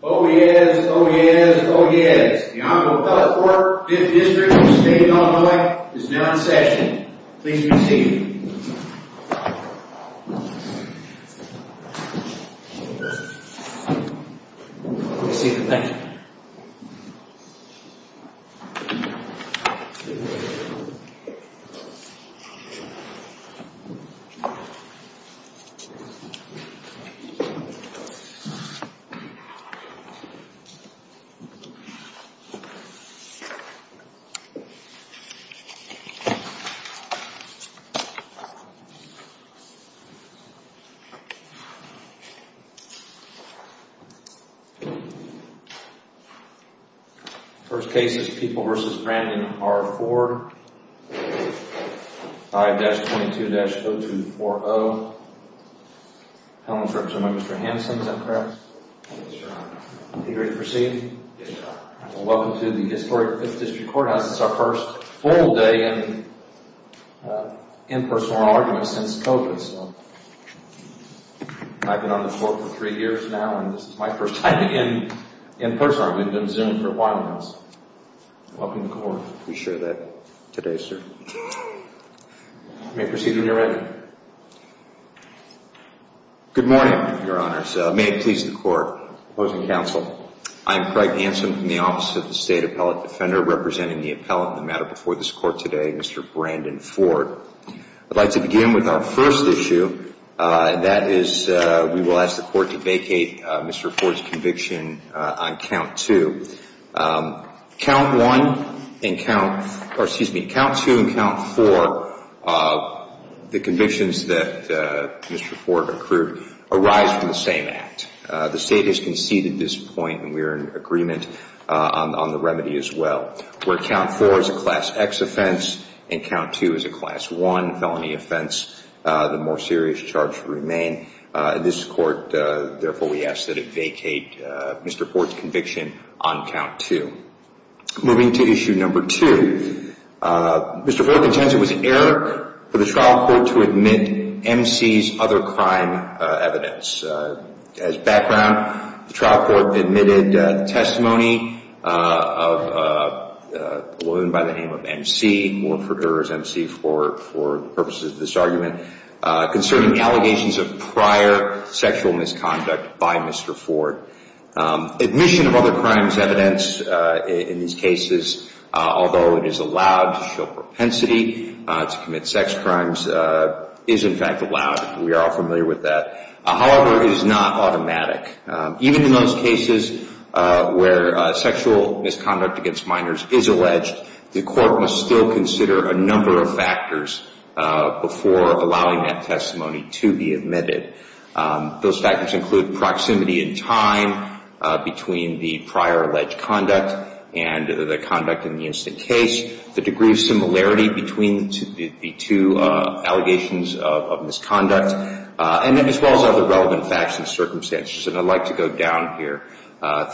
Oh yes, oh yes, oh yes. The Honorable Doug Ford, 5th District of the State of Illinois, is now in session. Please be seated. Please be seated. Thank you. First case is People v. Brandon R. Ford, 5-22-0240. Welcome to the historic 5th District Courthouse. It's our first full day of in-person oral arguments since COVID. I've been on the floor for three years now, and this is my first time in person. We've been Zoomed for a while now. Welcome to the court. We share that today, sir. You may proceed when you're ready. Good morning, Your Honors. May it please the Court. Opposing counsel. I am Craig Hansen from the Office of the State Appellate Defender, representing the appellant in the matter before this Court today, Mr. Brandon Ford. I'd like to begin with our first issue, and that is we will ask the Court to vacate Mr. Ford's conviction on count two. Count two and count four, the convictions that Mr. Ford accrued, arise from the same act. The State has conceded this point, and we are in agreement on the remedy as well. Where count four is a Class X offense, and count two is a Class I felony offense, the more serious charge will remain. This Court, therefore, we ask that it vacate Mr. Ford's conviction on count two. Moving to issue number two. Mr. Ford contends it was an error for the trial court to admit MC's other crime evidence. As background, the trial court admitted testimony of a woman by the name of MC, or for error's MC for the purposes of this argument, concerning allegations of prior sexual misconduct by Mr. Ford. Admission of other crimes evidence in these cases, although it is allowed to show propensity to commit sex crimes, is in fact allowed. We are all familiar with that. However, it is not automatic. Even in those cases where sexual misconduct against minors is alleged, the court must still consider a number of factors before allowing that testimony to be admitted. Those factors include proximity in time between the prior alleged conduct and the conduct in the instant case, the degree of similarity between the two allegations of misconduct, as well as other relevant facts and circumstances. And I'd like to go down here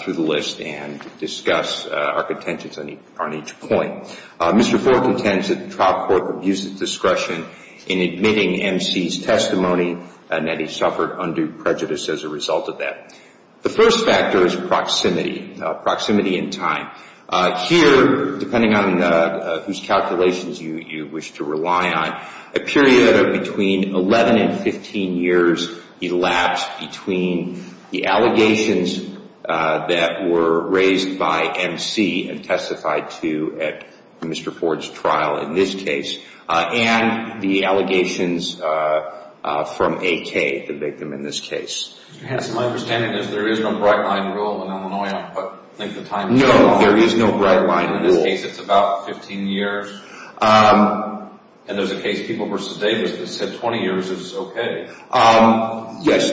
through the list and discuss our contentions on each point. Mr. Ford contends that the trial court abused its discretion in admitting MC's testimony and that he suffered undue prejudice as a result of that. The first factor is proximity, proximity in time. Here, depending on whose calculations you wish to rely on, a period of between 11 and 15 years elapsed between the allegations that were raised by MC and testified to at Mr. Ford's trial in this case, and the allegations from AK, the victim in this case. Mr. Hanson, my understanding is there is no bright-line rule in Illinois on what length of time... No, there is no bright-line rule. In this case, it's about 15 years. And there's a case, People v. Davis, that said 20 years is okay. Yes,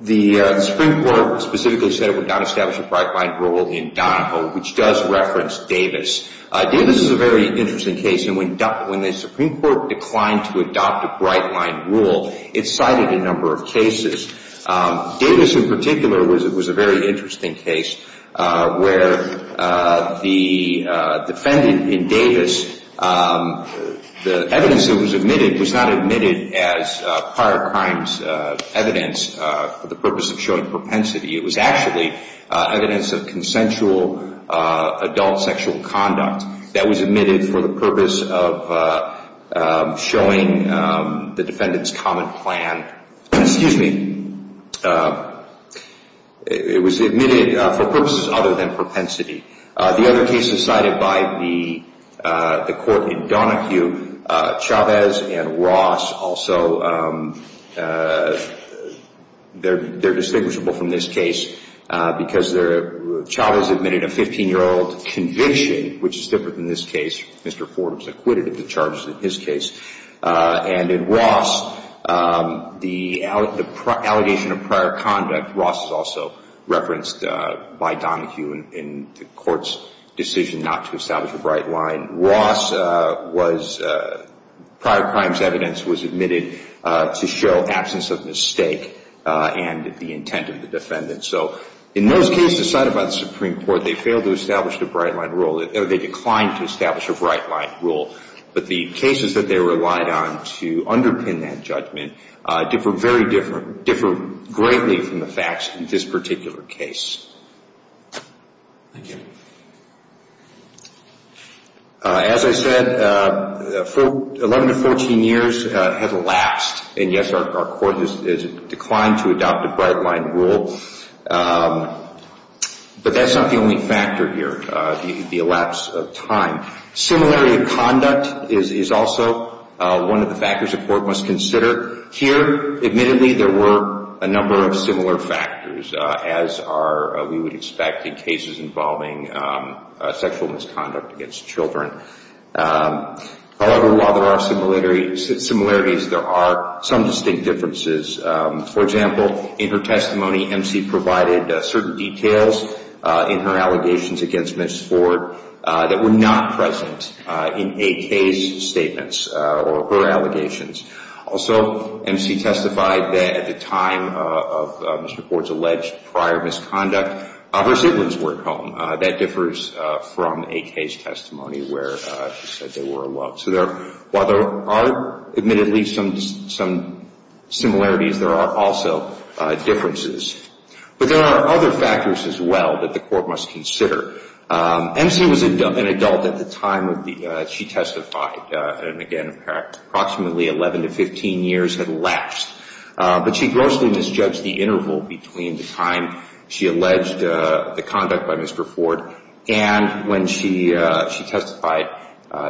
the Supreme Court specifically said it would not establish a bright-line rule in Donoho, which does reference Davis. Davis is a very interesting case, and when the Supreme Court declined to adopt a bright-line rule, it cited a number of cases. Davis in particular was a very interesting case where the defendant in Davis, the evidence that was admitted was not admitted as prior crimes evidence for the purpose of showing propensity. It was actually evidence of consensual adult sexual conduct that was admitted for the purpose of showing the defendant's common plan. Excuse me. It was admitted for purposes other than propensity. The other cases cited by the court in Donohue, Chavez and Ross also, they're distinguishable from this case because Chavez admitted a 15-year-old conviction, which is different than this case. Mr. Ford was acquitted of the charges in his case. And in Ross, the allegation of prior conduct, Ross is also referenced by Donohue in the court's decision not to establish a bright-line. Ross was prior crimes evidence was admitted to show absence of mistake and the intent of the defendant. So in those cases cited by the Supreme Court, they failed to establish a bright-line rule. They declined to establish a bright-line rule. But the cases that they relied on to underpin that judgment differ very differently, differ greatly from the facts in this particular case. Thank you. As I said, 11 to 14 years have elapsed. And, yes, our court has declined to adopt a bright-line rule. But that's not the only factor here, the elapse of time. Similarity of conduct is also one of the factors the court must consider. Here, admittedly, there were a number of similar factors, as we would expect in cases involving sexual misconduct against children. However, while there are similarities, there are some distinct differences. For example, in her testimony, MC provided certain details in her allegations against Ms. Ford that were not present in AK's statements or her allegations. Also, MC testified that at the time of Mr. Ford's alleged prior misconduct, her siblings were at home. That differs from AK's testimony where she said they were alone. So while there are, admittedly, some similarities, there are also differences. But there are other factors as well that the court must consider. MC was an adult at the time that she testified, and, again, approximately 11 to 15 years had elapsed. But she grossly misjudged the interval between the time she alleged the conduct by Mr. Ford and when she testified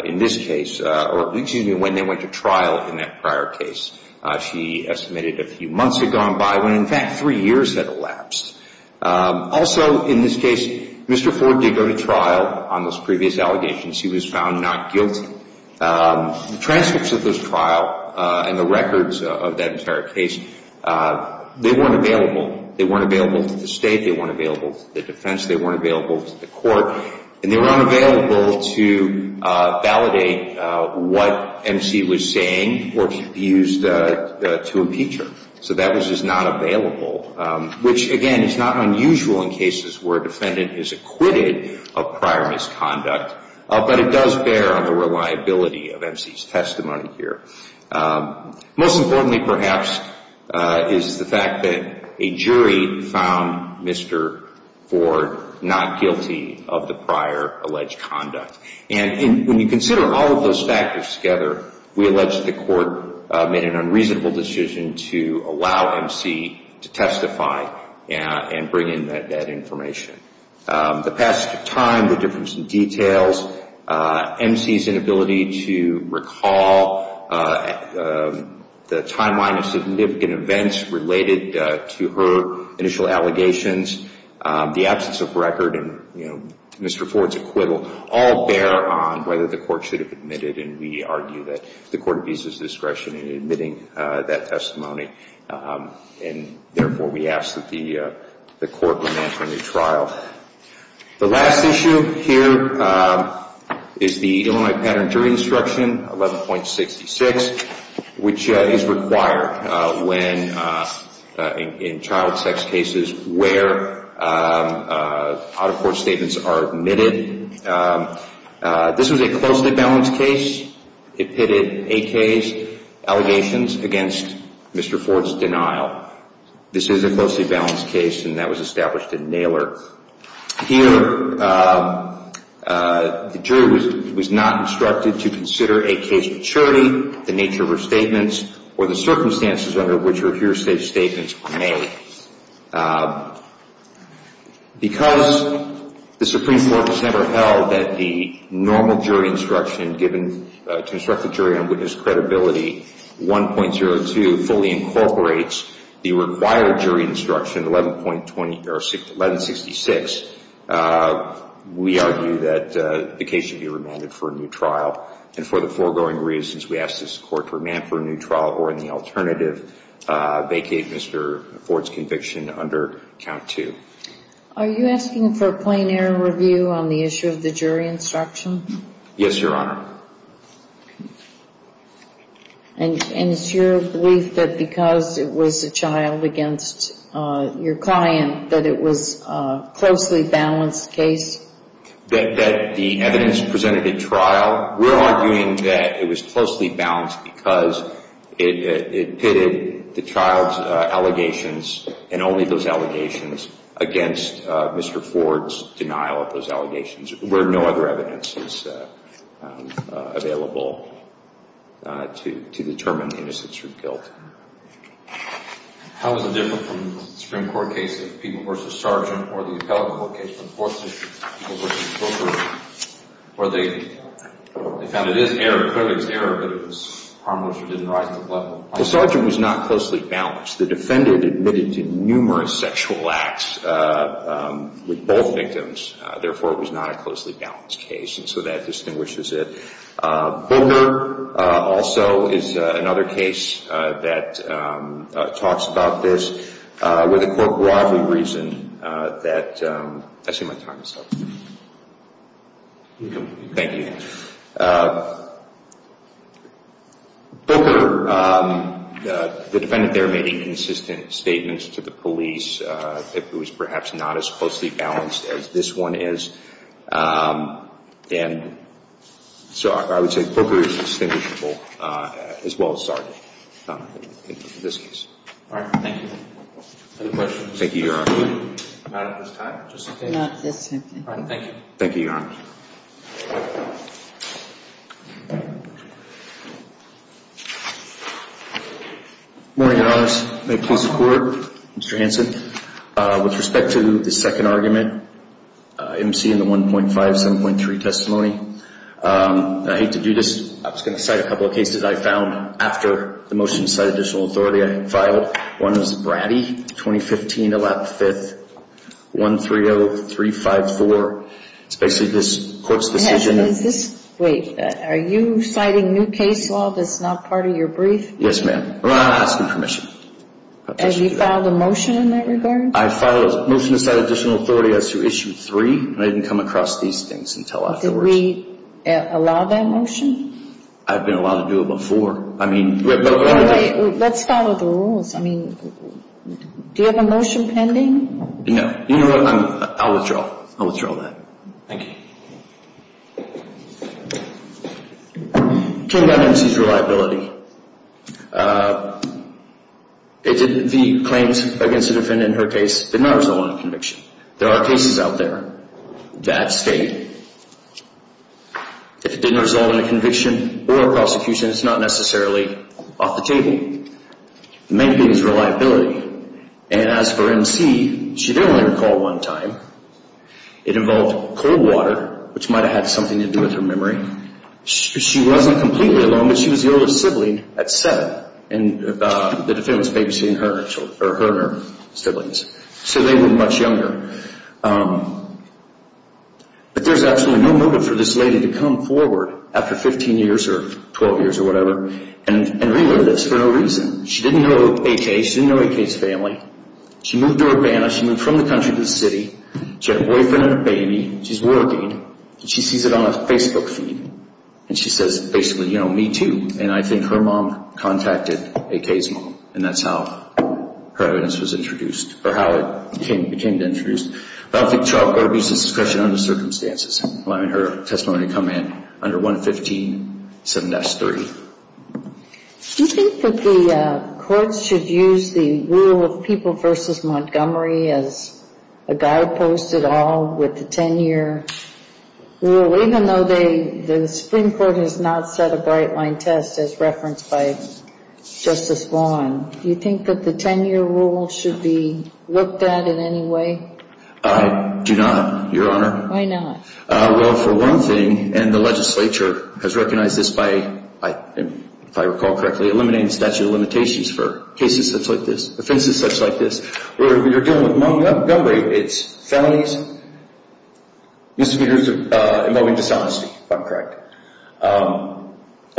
in this case, or, excuse me, when they went to trial in that prior case. She estimated a few months had gone by when, in fact, three years had elapsed. Also, in this case, Mr. Ford did go to trial on those previous allegations. He was found not guilty. The transcripts of this trial and the records of that entire case, they weren't available. They weren't available to the state. They weren't available to the defense. They weren't available to the court. And they were unavailable to validate what MC was saying or used to impeach her. So that was just not available, which, again, is not unusual in cases where a defendant is acquitted of prior misconduct. But it does bear on the reliability of MC's testimony here. Most importantly, perhaps, is the fact that a jury found Mr. Ford not guilty of the prior alleged conduct. And when you consider all of those factors together, we allege that the court made an unreasonable decision to allow MC to testify and bring in that information. The passage of time, the difference in details, MC's inability to recall, the timeline of significant events related to her initial allegations, the absence of record in Mr. Ford's acquittal all bear on whether the court should have admitted. And we argue that the court abuses discretion in admitting that testimony. And, therefore, we ask that the court demand a new trial. The last issue here is the Illinois Pattern of Jury Instruction 11.66, which is required in child sex cases where out-of-court statements are admitted. This was a closely balanced case. It pitted AK's allegations against Mr. Ford's denial. This is a closely balanced case, and that was established at Naylor. Here, the jury was not instructed to consider AK's maturity, the nature of her statements, or the circumstances under which her hearsay statements were made. Because the Supreme Court has never held that the normal jury instruction given to instruct the jury on witness credibility, 1.02 fully incorporates the required jury instruction, 11.66, we argue that the case should be remanded for a new trial. And for the foregoing reasons, we ask this court to remand for a new trial or in the alternative vacate Mr. Ford's conviction under count two. Are you asking for a plain error review on the issue of the jury instruction? Yes, Your Honor. And it's your belief that because it was a child against your client that it was a closely balanced case? That the evidence presented at trial? We're arguing that it was closely balanced because it pitted the child's allegations and only those allegations against Mr. Ford's denial of those allegations where no other evidence is available to determine the innocence or guilt. How is it different from the Supreme Court case of People v. Sergeant or the appellate court case of the Fourth District, People v. Boomer, where they found it is error, clearly it's error, but it was harmless or didn't rise to the level of harm? The Sergeant was not closely balanced. The defendant admitted to numerous sexual acts with both victims. Therefore, it was not a closely balanced case. And so that distinguishes it. Boomer also is another case that talks about this. With a court-broadly reason that I see my time is up. Thank you. Boomer, the defendant there made inconsistent statements to the police. It was perhaps not as closely balanced as this one is. And so I would say Boomer is distinguishable as well as Sergeant in this case. All right. Thank you. Any questions? Thank you, Your Honor. I'm out of this time, just in case. Not this time. All right. Thank you. Thank you, Your Honor. Good morning, Your Honors. May it please the Court, Mr. Hanson. With respect to the second argument, MC in the 1.5, 7.3 testimony, I hate to do this. I was going to cite a couple of cases I found after the motion to cite additional authority. I filed one as a bratty, 2015, 11-5-130354. It's basically this court's decision. Wait. Are you citing new case law that's not part of your brief? Yes, ma'am. I'm not asking permission. Have you filed a motion in that regard? I filed a motion to cite additional authority as to Issue 3. And I didn't come across these things until afterwards. Are we allowed that motion? I've been allowed to do it before. Let's follow the rules. I mean, do you have a motion pending? No. You know what? I'll withdraw. I'll withdraw that. Thank you. King-Levinson's reliability. The claims against the defendant in her case did not result in a conviction. There are cases out there that state if it didn't result in a conviction or a prosecution, it's not necessarily off the table. The main thing is reliability. And as for MC, she did only recall one time. It involved cold water, which might have had something to do with her memory. She wasn't completely alone, but she was the oldest sibling at seven. And the defendant was babysitting her and her siblings. So they were much younger. But there's absolutely no motive for this lady to come forward after 15 years or 12 years or whatever and relive this for no reason. She didn't know AK. She didn't know AK's family. She moved to Urbana. She moved from the country to the city. She had a boyfriend and a baby. She's working. And she sees it on a Facebook feed. And she says basically, you know, me too. And I think her mom contacted AK's mom. And that's how her evidence was introduced, or how it became introduced. I don't think trial court abuse is discretion under circumstances, allowing her testimony to come in under 115-7S-3. Do you think that the courts should use the rule of people versus Montgomery as a guidepost at all with the 10-year rule, even though the Supreme Court has not set a bright-line test as referenced by Justice Vaughn? Do you think that the 10-year rule should be looked at in any way? I do not, Your Honor. Why not? Well, for one thing, and the legislature has recognized this by, if I recall correctly, eliminating the statute of limitations for cases such like this, offenses such like this, where you're dealing with Montgomery, it's felonies, misdemeanors involving dishonesty, if I'm correct, and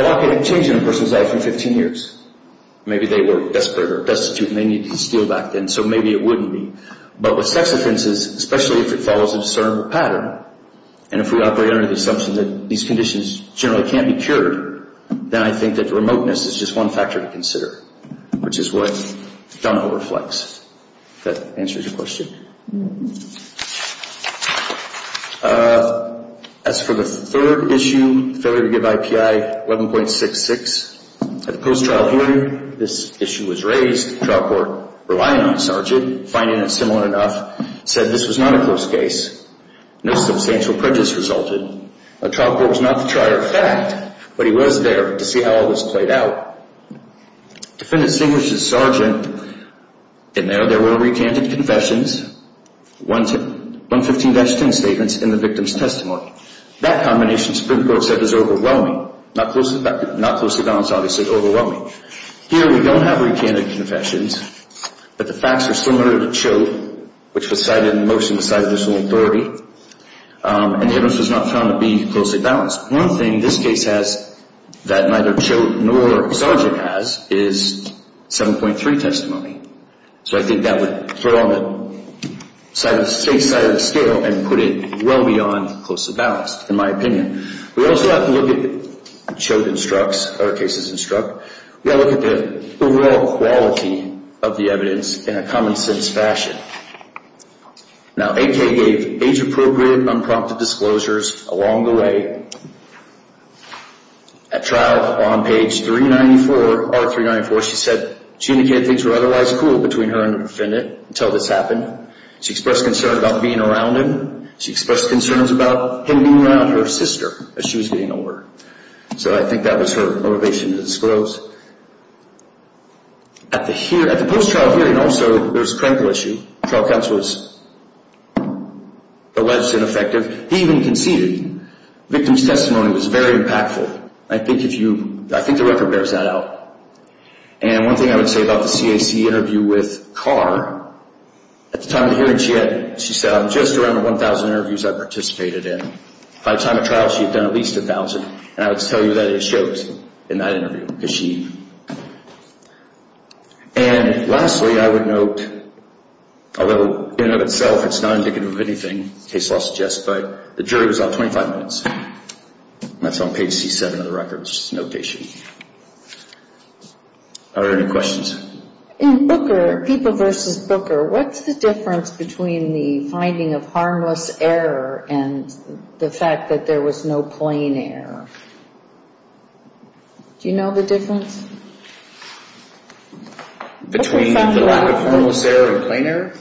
not getting a change in a person's life in 15 years. Maybe they were desperate or destitute and they needed to steal back then, so maybe it wouldn't be. But with sex offenses, especially if it follows a discernible pattern, and if we operate under the assumption that these conditions generally can't be cured, then I think that remoteness is just one factor to consider, which is what Donovo reflects. If that answers your question. As for the third issue, failure to give IPI 11.66, at the post-trial hearing this issue was raised, the trial court, relying on Sargent, finding it similar enough, said this was not a close case. No substantial prejudice resulted. The trial court was not the trier of fact, but he was there to see how all this played out. Defendant distinguished that Sargent, in there, there were recanted confessions, 115-10 statements in the victim's testimony. That combination, Spoonbrook said, is overwhelming. Not closely balanced, obviously, overwhelming. Here we don't have recanted confessions, but the facts are similar to Choate, which was cited in the motion beside additional authority. And evidence was not found to be closely balanced. One thing this case has that neither Choate nor Sargent has is 7.3 testimony. So I think that would throw on the safe side of the scale and put it well beyond closely balanced, in my opinion. We also have to look at, Choate instructs, our cases instruct, we have to look at the overall quality of the evidence in a common sense fashion. Now, AK gave age-appropriate, unprompted disclosures along the way. At trial, on page 394, R394, she said, Gina Kent thinks we're otherwise cool between her and the defendant until this happened. She expressed concern about being around him. She expressed concerns about him being around her sister as she was getting older. So I think that was her motivation to disclose. At the post-trial hearing, also, there was a critical issue. Trial counsel was alleged ineffective. He even conceded. The victim's testimony was very impactful. I think the record bears that out. And one thing I would say about the CAC interview with Carr, at the time of the hearing, she said, I'm just around the 1,000 interviews I participated in. By the time of trial, she had done at least 1,000. And I would tell you that is Choate in that interview, because she, and lastly, I would note, although in and of itself it's not indicative of anything, case law suggests, but the jury was out 25 minutes. That's on page C7 of the record, just a notation. Are there any questions? In Booker, People v. Booker, what's the difference between the finding of harmless error and the fact that there was no plain error? Do you know the difference? Between the lack of harmless error and plain error?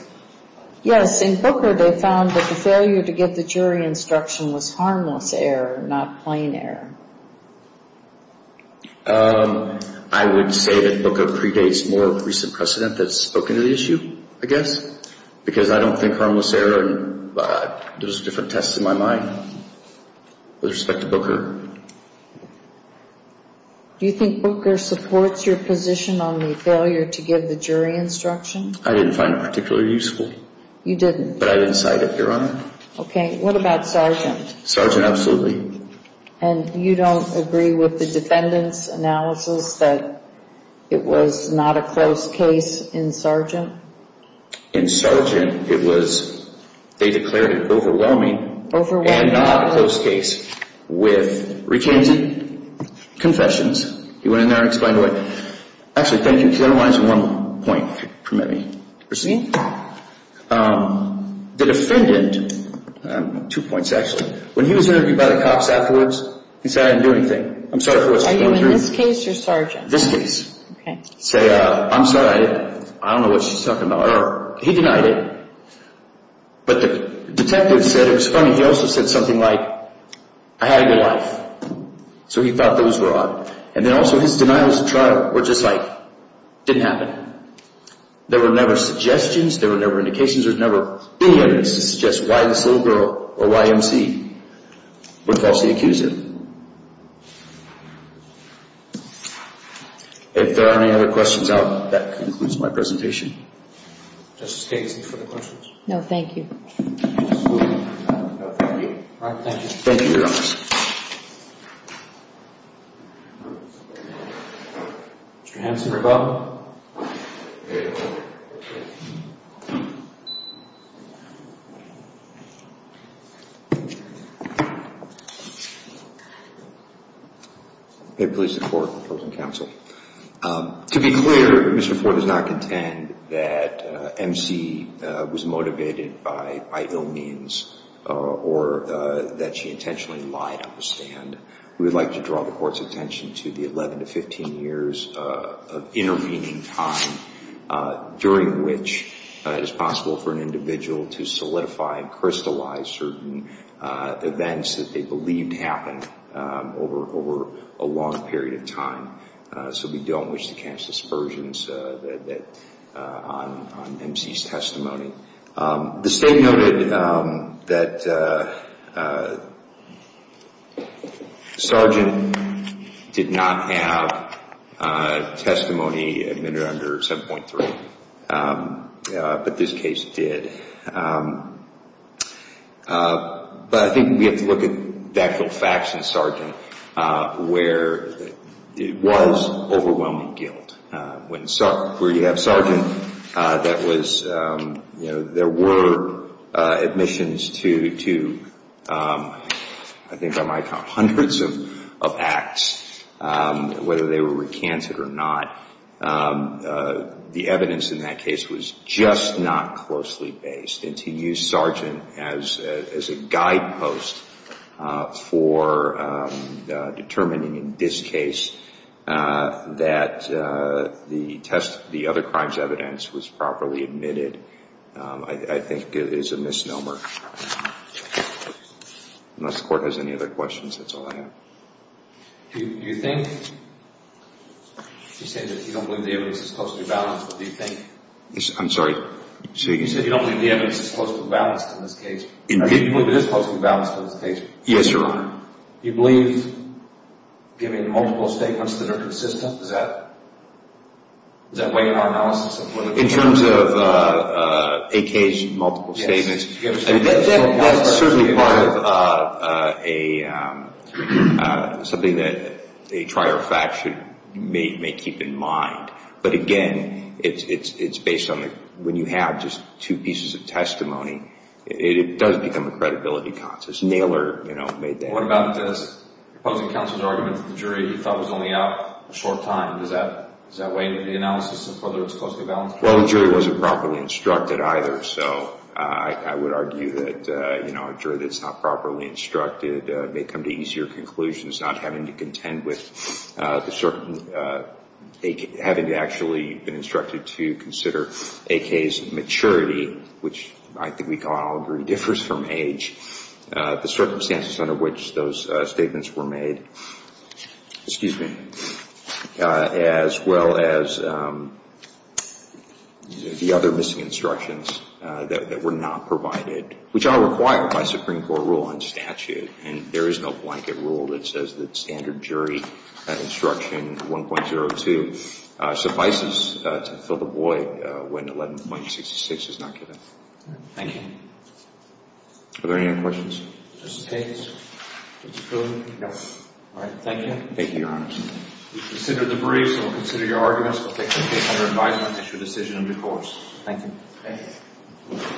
Yes. In Booker, they found that the failure to give the jury instruction was harmless error, not plain error. I would say that Booker predates more recent precedent that's spoken to the issue, I guess, because I don't think harmless error, there's different tests in my mind with respect to Booker. Do you think Booker supports your position on the failure to give the jury instruction? I didn't find it particularly useful. You didn't? But I didn't cite it, Your Honor. Okay. What about Sargent? Sargent, absolutely. And you don't agree with the defendant's analysis that it was not a close case in Sargent? In Sargent, it was, they declared it overwhelming. Overwhelming. And not a close case with recanted confessions. He went in there and explained to her, actually, thank you, she only wanted one point to permit me to proceed. The defendant, two points actually, when he was interviewed by the cops afterwards, he said, I didn't do anything. I'm sorry for what's going through. Are you in this case or Sargent? This case. Okay. He said, I'm sorry. I don't know what she's talking about. He denied it. But the detective said it was funny. He also said something like, I had a good life. So he thought those were odd. And then also his denials of trial were just like, didn't happen. There were never suggestions. There were never indications. There's never been evidence to suggest why this little girl or YMC were falsely accused of. If there are any other questions, that concludes my presentation. Justice Gaines, any further questions? No, thank you. Absolutely. Thank you. All right, thank you. Thank you, Your Honor. Mr. Hanson, rebuttal. May it please the Court and the closing counsel. To be clear, Mr. Ford does not contend that MC was motivated by ill means or that she intentionally lied on the stand. We would like to draw the Court's attention to the 11 to 15 years of intervening in the case. During which it is possible for an individual to solidify and crystallize certain events that they believed happened over a long period of time. So we don't wish to catch dispersions on MC's testimony. The State noted that the Sergeant did not have testimony admitted under 7.3, but this case did. But I think we have to look at the actual facts in Sergeant where it was overwhelming guilt. Where you have Sergeant that was, you know, there were admissions to, I think I might count, hundreds of acts, whether they were recanted or not. The evidence in that case was just not closely based. And to use Sergeant as a guidepost for determining in this case that the test, the other crimes evidence was properly admitted, I think is a misnomer. Unless the Court has any other questions, that's all I have. Do you think, you're saying that you don't believe the evidence is closely balanced, but do you think? I'm sorry? You said you don't believe the evidence is closely balanced in this case. Do you believe it is closely balanced in this case? Yes, Your Honor. Do you believe, given multiple statements that are consistent, does that weigh our analysis? In terms of a case, multiple statements, that's certainly part of something that a trier of fact may keep in mind. But again, it's based on when you have just two pieces of testimony, it does become a credibility contest. Naylor made that point. What about opposing counsel's argument that the jury thought was only out a short time? Does that weigh the analysis of whether it's closely balanced? Well, the jury wasn't properly instructed either, so I would argue that a jury that's not properly instructed may come to easier conclusions, not having to contend with the certain, having actually been instructed to consider AK's maturity, which I think we can all agree differs from age, the circumstances under which those statements were made, excuse me, as well as the other missing instructions that were not provided, which are required by Supreme Court rule and statute, and there is no blanket rule that says that standard jury instruction 1.02 suffices to fill the void when 11.66 is not given. Thank you. Are there any other questions? Is this okay? It's approved? Yes. All right, thank you. Thank you, Your Honor. We've considered the briefs and we'll consider your arguments. That's your decision of divorce. Thank you. Thank you.